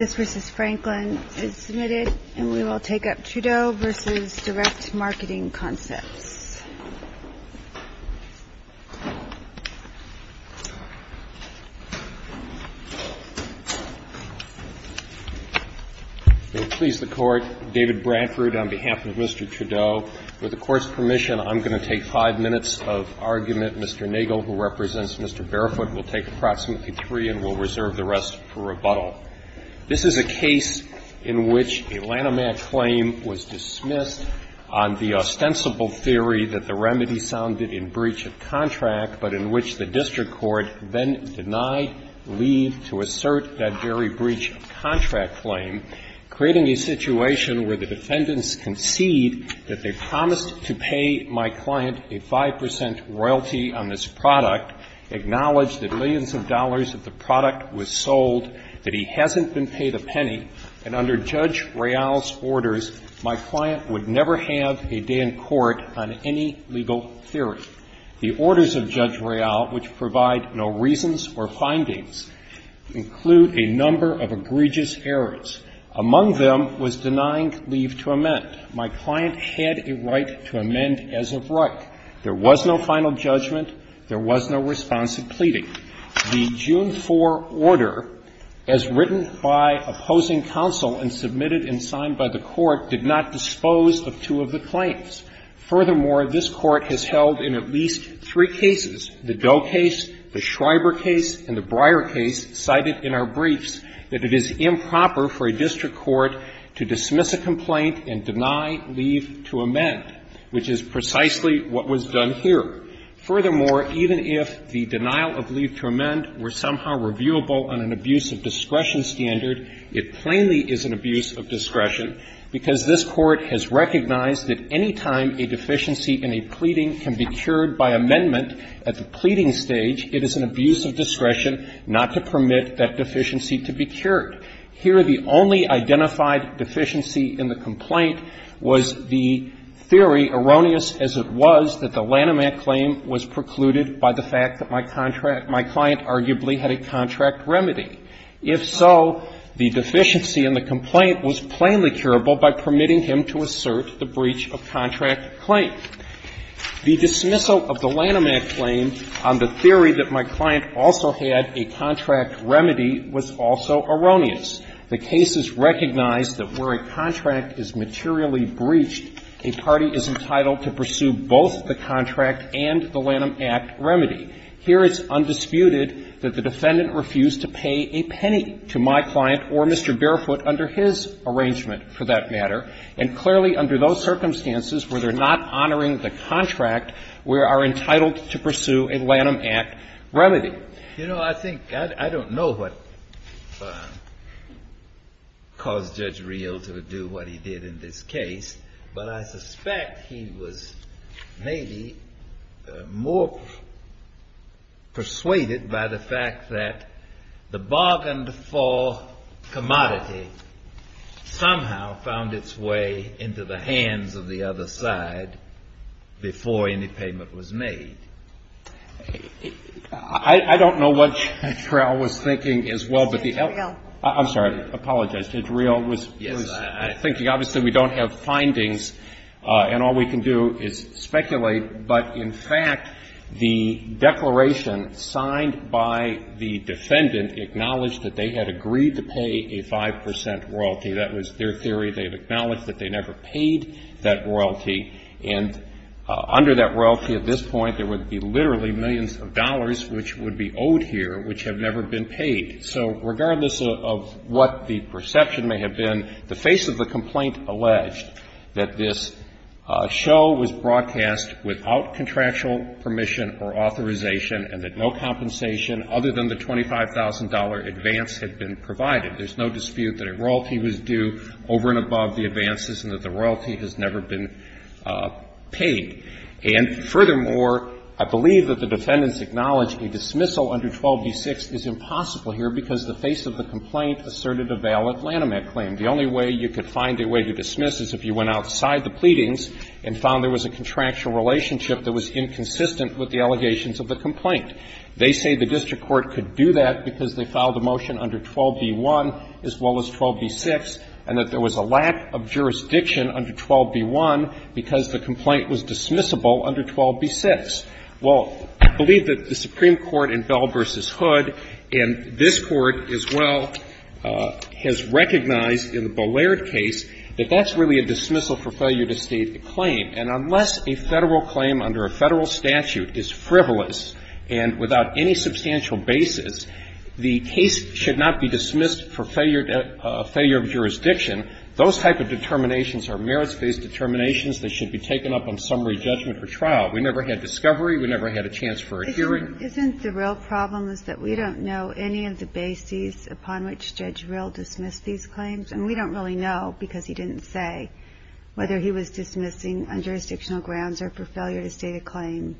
This v. Franklin is submitted, and we will take up Trudeau v. Direct Marketing Concepts. Please, the court. David Bradford on behalf of Mr. Trudeau. With the court's permission, I'm going to take five minutes of argument. Mr. Nagel, who represents Mr. Barefoot, will take approximately three and will reserve the rest for rebuttal. This is a case in which a Lanham Act claim was dismissed on the ostensible theory that the remedy sounded in breach of contract, but in which the district court then denied leave to assert that very breach of contract claim, creating a situation where the defendants concede that they promised to pay my client a 5% royalty on this product, acknowledged that millions of dollars of the product was sold, that he hasn't been paid a penny, and under Judge Real's orders, my client would never have a day in court on any legal theory. The orders of Judge Real, which provide no reasons or findings, include a number of egregious errors. Among them was denying leave to amend. My client had a right to amend as of right. There was no final judgment. There was no response in pleading. The June 4 order, as written by opposing counsel and submitted and signed by the Court, did not dispose of two of the claims. Furthermore, this Court has held in at least three cases, the Doe case, the Schreiber case, and the Breyer case, cited in our briefs, that it is improper for a district court to dismiss a complaint and deny leave to amend, which is precisely what was done here. Furthermore, even if the denial of leave to amend were somehow reviewable on an abuse of discretion standard, it plainly is an abuse of discretion, because this Court has recognized that any time a deficiency in a pleading can be cured by amendment at the pleading stage, it is an abuse of discretion not to permit that deficiency to be cured. Here, the only identified deficiency in the complaint was the theory, erroneous as it was, that the Lanham Act claim was precluded by the fact that my contract my client arguably had a contract remedy. If so, the deficiency in the complaint was plainly curable by permitting him to assert the breach of contract claim. The dismissal of the Lanham Act claim on the theory that my client also had a contract remedy was also erroneous. The case is recognized that where a contract is materially breached, a party is entitled to pursue both the contract and the Lanham Act remedy. Here, it's undisputed that the defendant refused to pay a penny to my client or Mr. Barefoot under his arrangement, for that matter, and clearly, under those circumstances where they're not honoring the contract, we are entitled to pursue a Lanham Act remedy. You know, I think God, I don't know what caused Judge Reel to do what he did in this case, but I suspect he was maybe more persuaded by the fact that the bargained-for commodity somehow found its way into the hands of the other side before any payment was made. I don't know what Judge Reel was thinking as well, but the other – Judge Reel. I'm sorry. I apologize. Judge Reel was – But there are some very important findings, and all we can do is speculate. But in fact, the declaration signed by the defendant acknowledged that they had agreed to pay a 5 percent royalty. That was their theory. They had acknowledged that they never paid that royalty, and under that royalty at this point, there would be literally millions of dollars which would be owed here which have never been paid. So regardless of what the perception may have been, the face of the complaint alleged that this show was broadcast without contractual permission or authorization and that no compensation other than the $25,000 advance had been provided. There's no dispute that a royalty was due over and above the advances and that the royalty has never been paid. And furthermore, I believe that the defendants acknowledge a dismissal under 12b-6 is impossible here because the face of the complaint asserted a valid Lanhamet claim. The only way you could find a way to dismiss is if you went outside the pleadings and found there was a contractual relationship that was inconsistent with the allegations of the complaint. They say the district court could do that because they filed a motion under 12b-1 as well as 12b-6 and that there was a lack of jurisdiction under 12b-1 because the complaint was dismissible under 12b-6. Well, I believe that the Supreme Court in Bell v. Hood and this Court as well has recognized in the Bollard case that that's really a dismissal for failure to state a claim. And unless a Federal claim under a Federal statute is frivolous and without any substantial basis, the case should not be dismissed for failure of jurisdiction. Those type of determinations are merits-based determinations that should be taken up on summary judgment or trial. We never had discovery. We never had a chance for a hearing. Isn't the real problem is that we don't know any of the bases upon which Judge Rill dismissed these claims? And we don't really know because he didn't say whether he was dismissing on jurisdictional grounds or for failure to state a claim.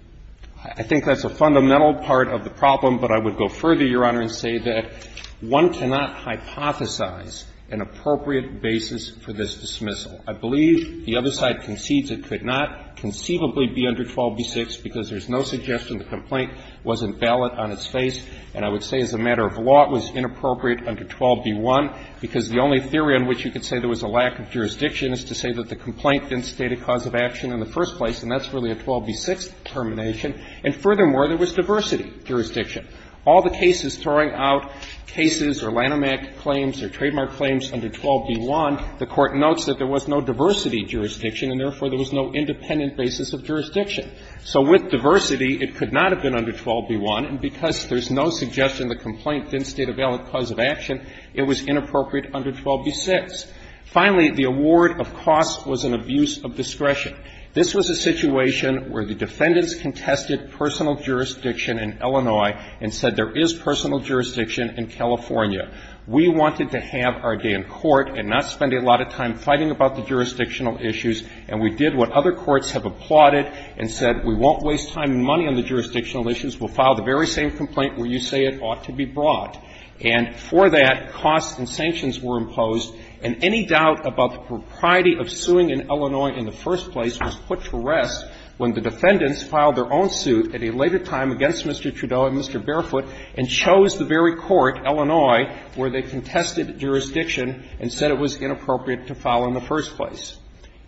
I think that's a fundamental part of the problem, but I would go further, Your Honor, and say that one cannot hypothesize an appropriate basis for this dismissal. I believe the other side concedes it could not conceivably be under 12b-6 because there's no suggestion the complaint wasn't valid on its face. And I would say as a matter of law it was inappropriate under 12b-1 because the only theory on which you could say there was a lack of jurisdiction is to say that the complaint didn't state a cause of action in the first place, and that's really a 12b-6 determination. And furthermore, there was diversity jurisdiction. All the cases throwing out cases or Lanham Act claims or trademark claims under 12b-1, the Court notes that there was no diversity jurisdiction and, therefore, there was no independent basis of jurisdiction. So with diversity, it could not have been under 12b-1, and because there's no suggestion the complaint didn't state a valid cause of action, it was inappropriate under 12b-6. Finally, the award of costs was an abuse of discretion. This was a situation where the defendants contested personal jurisdiction in Illinois and said there is personal jurisdiction in California. We wanted to have our day in court and not spend a lot of time fighting about the jurisdictional issues, and we did what other courts have applauded and said, we won't waste time and money on the jurisdictional issues. We'll file the very same complaint where you say it ought to be brought. And for that, costs and sanctions were imposed, and any doubt about the propriety of suing in Illinois in the first place was put to rest when the defendants filed their own suit at a later time against Mr. Trudeau and Mr. Barefoot and chose the very court, Illinois, where they contested jurisdiction and said it was inappropriate to file in the first place.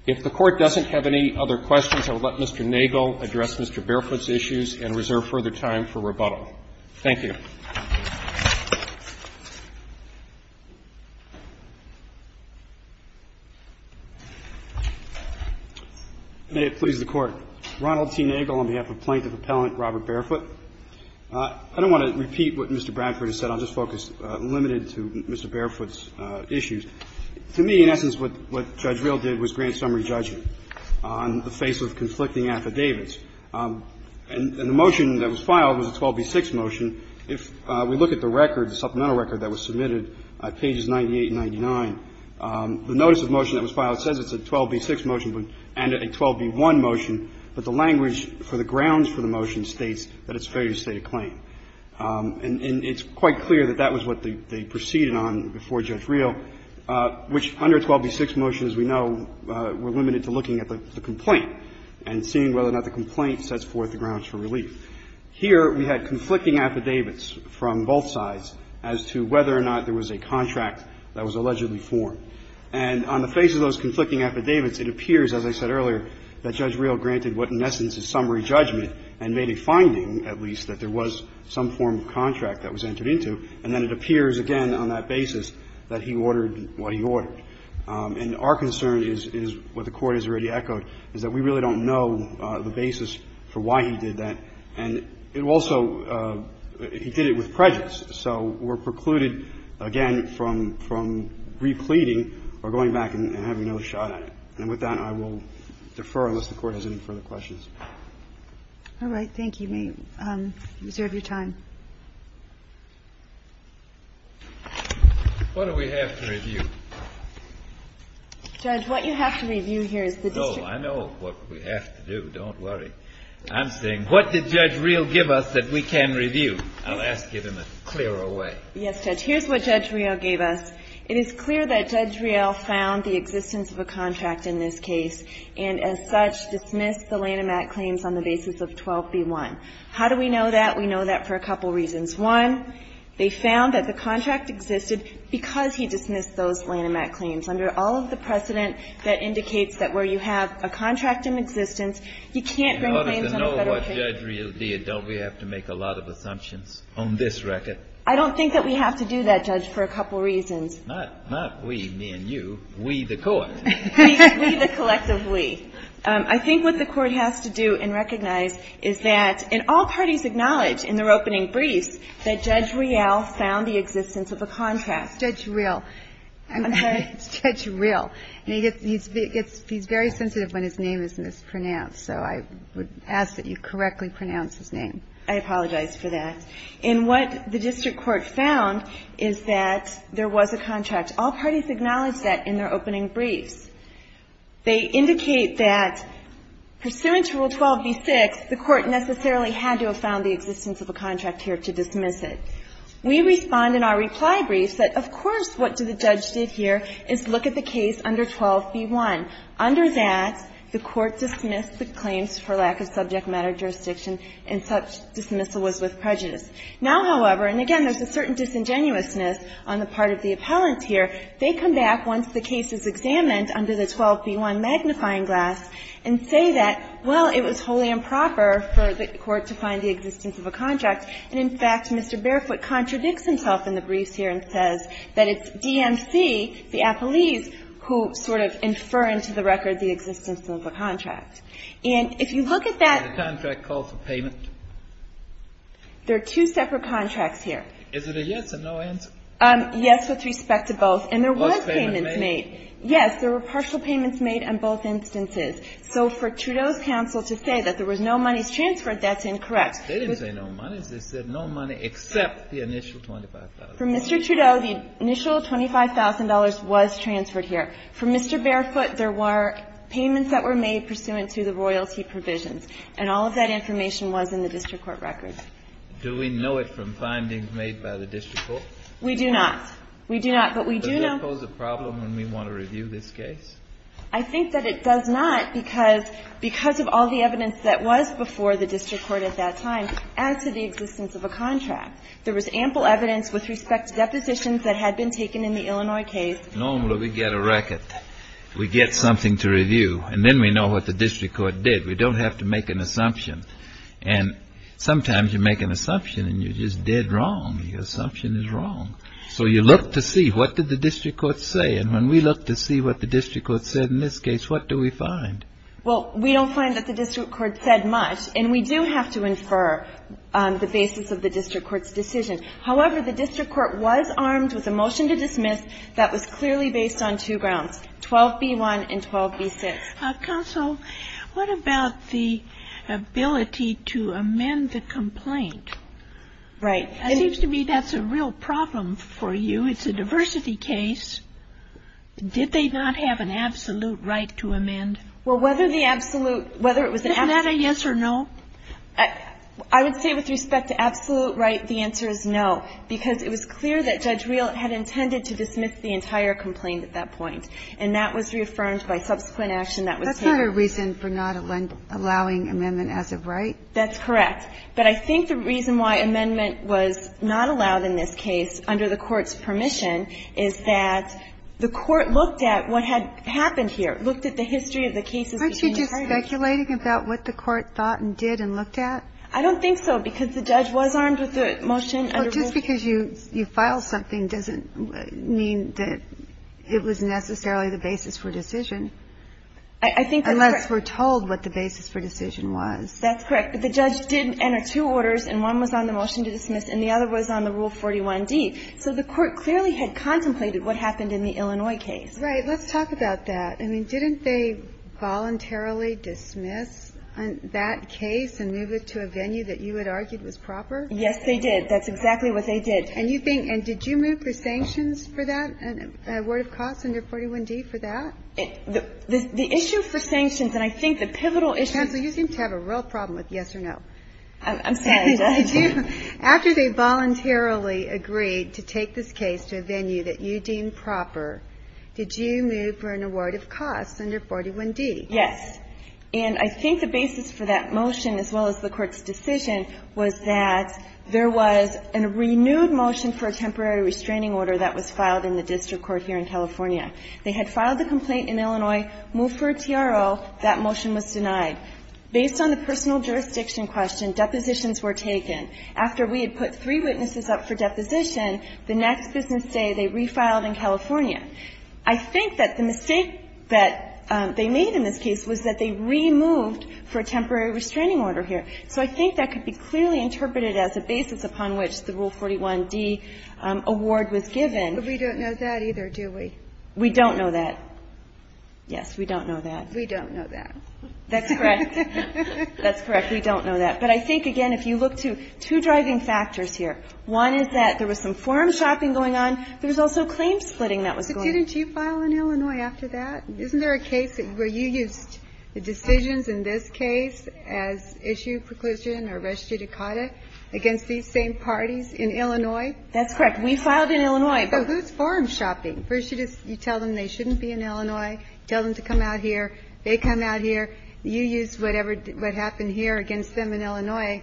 If the Court doesn't have any other questions, I will let Mr. Nagel address Mr. Barefoot's issues and reserve further time for rebuttal. Thank you. May it please the Court. Ronald T. Nagel on behalf of Plaintiff Appellant Robert Barefoot. I don't want to repeat what Mr. Bradford has said. I'll just focus limited to Mr. Barefoot's issues. To me, in essence, what Judge Real did was grant summary judgment on the face of conflicting affidavits. And the motion that was filed was a 12b-6 motion. If we look at the record, the supplemental record that was submitted, pages 98 and 99, the notice of motion that was filed says it's a 12b-6 motion and a 12b-1 motion, but the language for the grounds for the motion states that it's a failure to state a claim. And it's quite clear that that was what they proceeded on before Judge Real, which under a 12b-6 motion, as we know, we're limited to looking at the complaint and seeing whether or not the complaint sets forth the grounds for relief. Here, we had conflicting affidavits from both sides as to whether or not there was a contract that was allegedly formed. And on the face of those conflicting affidavits, it appears, as I said earlier, that Judge Real granted what, in essence, is summary judgment and made a finding, at least, that there was some form of contract that was entered into. And then it appears again on that basis that he ordered what he ordered. And our concern is what the Court has already echoed, is that we really don't know the basis for why he did that. And it also he did it with prejudice. So we're precluded, again, from repleting or going back and having another shot at it. And with that, I will defer unless the Court has any further questions. All right. Thank you. You may reserve your time. What do we have to review? Judge, what you have to review here is the district. No. I know what we have to do. Don't worry. I'm saying, what did Judge Real give us that we can review? I'll ask you in a clearer way. Yes, Judge. Here's what Judge Real gave us. It is clear that Judge Real found the existence of a contract in this case and, as such, dismissed the Lanham Act claims on the basis of 12b-1. How do we know that? We know that for a couple reasons. One, they found that the contract existed because he dismissed those Lanham Act claims. Under all of the precedent that indicates that where you have a contract in existence, you can't bring claims on a Federal case. In order to know what Judge Real did, don't we have to make a lot of assumptions on this record? I don't think that we have to do that, Judge, for a couple reasons. Not we, me and you. We, the Court. We, the collective we. I think what the Court has to do and recognize is that, and all parties acknowledge in their opening briefs that Judge Real found the existence of a contract. It's Judge Real. I'm sorry? It's Judge Real. And he's very sensitive when his name is mispronounced, so I would ask that you correctly pronounce his name. I apologize for that. And what the district court found is that there was a contract. All parties acknowledge that in their opening briefs. They indicate that pursuant to Rule 12b-6, the Court necessarily had to have found the existence of a contract here to dismiss it. We respond in our reply briefs that, of course, what the judge did here is look at the case under 12b-1. Under that, the Court dismissed the claims for lack of subject matter jurisdiction and such dismissal was with prejudice. Now, however, and again, there's a certain disingenuousness on the part of the appellant here. They come back once the case is examined under the 12b-1 magnifying glass and say that, well, it was wholly improper for the Court to find the existence of a contract. And, in fact, Mr. Barefoot contradicts himself in the briefs here and says that it's DMC, the appellees, who sort of infer into the record the existence of a contract. And if you look at that ---- And if you look at that brief, you'll see that there was no payment. There are two separate contracts here. Is it a yes and no answer? Yes, with respect to both. And there was payments made. Was payment made? Yes, there were partial payments made on both instances. So for Trudeau's counsel to say that there was no monies transferred, that's incorrect. They didn't say no monies. They said no money except the initial $25,000. For Mr. Trudeau, the initial $25,000 was transferred here. For Mr. Barefoot, there were payments that were made pursuant to the royalty provisions. And all of that information was in the district court records. Do we know it from findings made by the district court? We do not. We do not. But we do know ---- Does that pose a problem when we want to review this case? I think that it does not because of all the evidence that was before the district court at that time as to the existence of a contract. There was ample evidence with respect to depositions that had been taken in the Illinois case. Normally we get a record. We get something to review. And then we know what the district court did. We don't have to make an assumption. And sometimes you make an assumption and you're just dead wrong. Your assumption is wrong. So you look to see what did the district court say. And when we look to see what the district court said in this case, what do we find? Well, we don't find that the district court said much. And we do have to infer the basis of the district court's decision. However, the district court was armed with a motion to dismiss that was clearly based on two grounds, 12B1 and 12B6. Counsel, what about the ability to amend the complaint? Right. It seems to me that's a real problem for you. It's a diversity case. Did they not have an absolute right to amend? Well, whether the absolute ---- Is that a yes or no? I would say with respect to absolute right, the answer is no. Because it was clear that Judge Reel had intended to dismiss the entire complaint at that point. And that was reaffirmed by subsequent action that was taken. That's not a reason for not allowing amendment as of right? That's correct. But I think the reason why amendment was not allowed in this case under the Court's permission is that the Court looked at what had happened here, looked at the history of the cases between the parties. Are you speculating about what the Court thought and did and looked at? I don't think so. Because the judge was armed with a motion under Rule ---- Well, just because you file something doesn't mean that it was necessarily the basis for decision. I think that's correct. Unless we're told what the basis for decision was. That's correct. But the judge did enter two orders, and one was on the motion to dismiss, and the other was on the Rule 41D. So the Court clearly had contemplated what happened in the Illinois case. Right. Let's talk about that. Didn't they voluntarily dismiss that case and move it to a venue that you had argued was proper? Yes, they did. That's exactly what they did. And did you move for sanctions for that, an award of costs under 41D for that? The issue for sanctions, and I think the pivotal issue ---- Counsel, you seem to have a real problem with yes or no. I'm sorry. After they voluntarily agreed to take this case to a venue that you deemed proper, did you move for an award of costs under 41D? Yes. And I think the basis for that motion, as well as the Court's decision, was that there was a renewed motion for a temporary restraining order that was filed in the district court here in California. They had filed the complaint in Illinois, moved for a TRO. That motion was denied. Based on the personal jurisdiction question, depositions were taken. After we had put three witnesses up for deposition, the next business day they refiled in California. I think that the mistake that they made in this case was that they removed for a temporary restraining order here. So I think that could be clearly interpreted as a basis upon which the Rule 41D award was given. But we don't know that either, do we? We don't know that. Yes, we don't know that. We don't know that. That's correct. That's correct. We don't know that. But I think, again, if you look to two driving factors here, one is that there was some form-shopping going on. There was also claim-splitting that was going on. So didn't you file in Illinois after that? Isn't there a case where you used the decisions in this case as issue preclusion or res judicata against these same parties in Illinois? That's correct. We filed in Illinois. But who's form-shopping? First you tell them they shouldn't be in Illinois. You tell them to come out here. They come out here. You used whatever happened here against them in Illinois.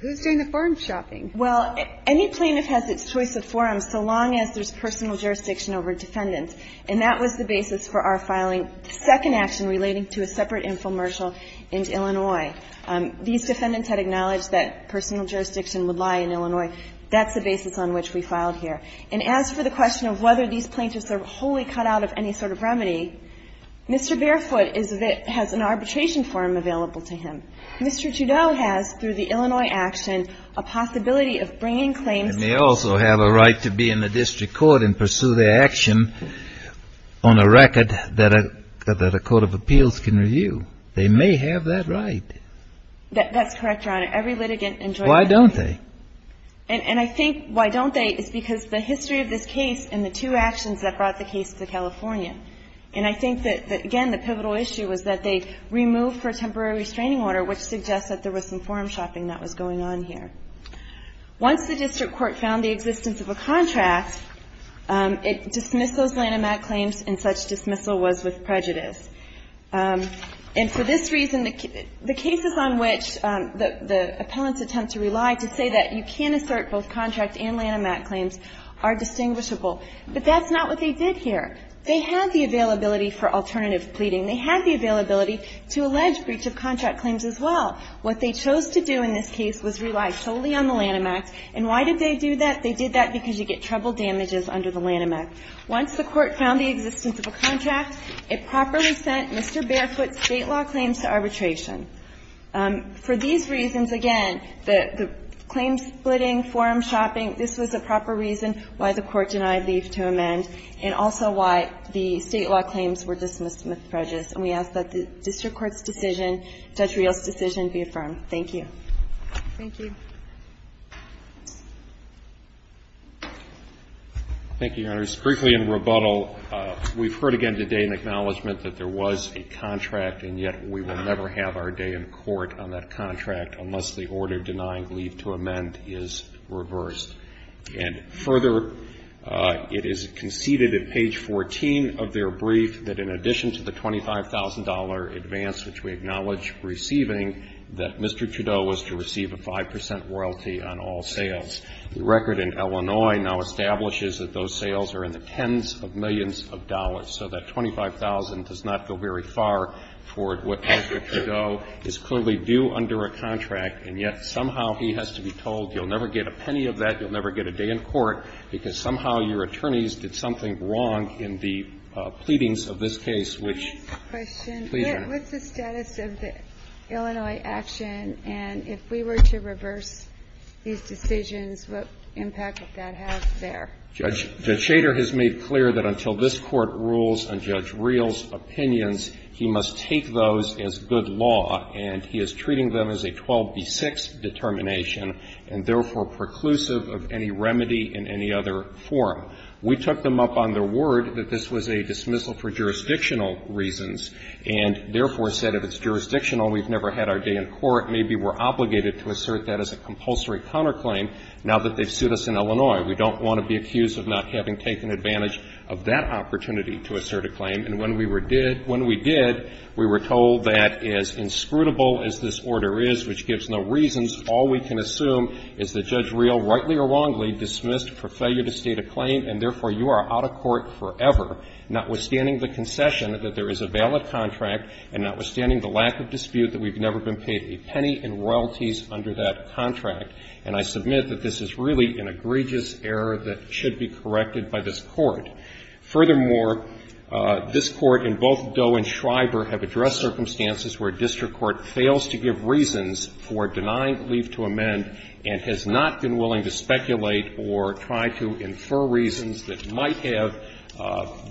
Who's doing the form-shopping? Well, any plaintiff has its choice of forum so long as there's personal jurisdiction over defendants. And that was the basis for our filing. The second action relating to a separate infomercial in Illinois. These defendants had acknowledged that personal jurisdiction would lie in Illinois. That's the basis on which we filed here. And as for the question of whether these plaintiffs are wholly cut out of any sort of remedy, Mr. Barefoot has an arbitration forum available to him. Mr. Trudeau has, through the Illinois action, a possibility of bringing claims. And they also have a right to be in the district court and pursue the action on a record that a court of appeals can review. They may have that right. That's correct, Your Honor. Every litigant enjoys that right. Why don't they? And I think why don't they is because the history of this case and the two actions that brought the case to California. And I think that, again, the pivotal issue was that they removed for temporary restraining order, which suggests that there was some forum shopping that was going on here. Once the district court found the existence of a contract, it dismissed those Lanham Act claims, and such dismissal was with prejudice. And for this reason, the cases on which the appellants attempt to rely to say that you can assert both contract and Lanham Act claims are distinguishable. But that's not what they did here. They had the availability for alternative pleading. They had the availability to allege breach of contract claims as well. What they chose to do in this case was rely solely on the Lanham Act. And why did they do that? They did that because you get trouble damages under the Lanham Act. Once the court found the existence of a contract, it properly sent Mr. Barefoot's state law claims to arbitration. For these reasons, again, the claim splitting, forum shopping, this was a proper reason why the court denied leave to amend, and also why the state law claims were dismissed with prejudice. And we ask that the district court's decision, Judge Rios' decision, be affirmed. Thank you. Thank you. Thank you, Your Honors. Briefly in rebuttal, we've heard again today an acknowledgment that there was a contract, and yet we will never have our day in court on that contract unless the order denying leave to amend is reversed. And further, it is conceded at page 14 of their brief that in addition to the $25,000 advance, which we acknowledge receiving, that Mr. Trudeau was to receive a 5 percent royalty on all sales. The record in Illinois now establishes that those sales are in the tens of millions of dollars, so that $25,000 does not go very far for what Mr. Trudeau is clearly due under a contract, and yet somehow he has to be told you'll never get a penny of that, you'll never get a day in court, because somehow your attorneys did something wrong in the pleadings of this case, which – Can I ask a question? Please, Your Honor. What's the status of the Illinois action? And if we were to reverse these decisions, what impact would that have there? Judge Shader has made clear that until this Court rules on Judge Rios' opinions, he must take those as good law, and he is treating them as a 12B6 determination, and therefore preclusive of any remedy in any other form. We took them up on their word that this was a dismissal for jurisdictional reasons, and therefore said if it's jurisdictional, we've never had our day in court, maybe we're obligated to assert that as a compulsory counterclaim now that they've sued us in Illinois. We don't want to be accused of not having taken advantage of that opportunity to assert a claim, and when we were – when we did, we were told that as inscrutable as this order is, which gives no reasons, all we can assume is that Judge Rios, rightly or wrongly, dismissed for failure to state a claim, and therefore you are out of court forever, notwithstanding the concession that there is a valid contract, and notwithstanding the lack of dispute that we've never been paid a penny in royalties under that contract. And I submit that this is really an egregious error that should be corrected by this Court. Furthermore, this Court in both Doe and Schreiber have addressed circumstances where district court fails to give reasons for denying leave to amend and has not been willing to speculate or try to infer reasons that might have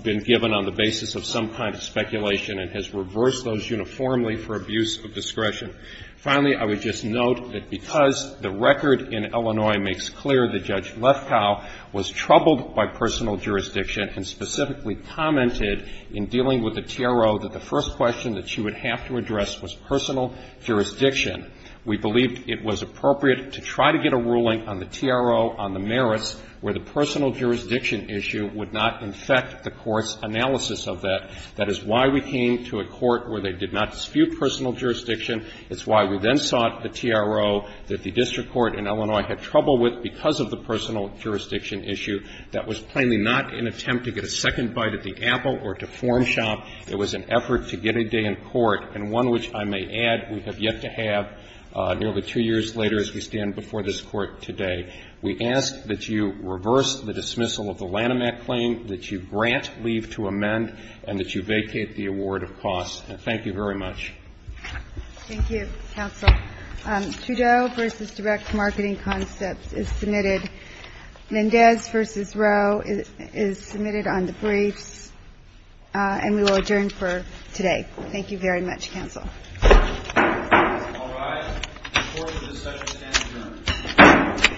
been given on the basis of some kind of speculation and has reversed those uniformly for abuse of discretion. Finally, I would just note that because the record in Illinois makes clear that Judge Lefkow was troubled by personal jurisdiction and specifically commented in dealing with the TRO that the first question that she would have to address was personal jurisdiction, we believed it was appropriate to try to get a ruling on the TRO on the merits where the personal jurisdiction issue would not infect the Court's analysis of that. That is why we came to a court where they did not dispute personal jurisdiction. It's why we then sought the TRO that the district court in Illinois had trouble with because of the personal jurisdiction issue that was plainly not an attempt to get a second bite at the apple or to form shop. It was an effort to get a day in court, and one which I may add we have yet to have nearly two years later as we stand before this Court today. We ask that you reverse the dismissal of the Lanham Act claim, that you grant leave to amend, and that you vacate the award of costs. And thank you very much. Thank you, counsel. Trudeau v. Direct Marketing Concepts is submitted. Mendez v. Rowe is submitted on the briefs. And we will adjourn for today. Thank you very much, counsel. All rise. The Court of Discussion is adjourned. The Court is adjourned. Thank you.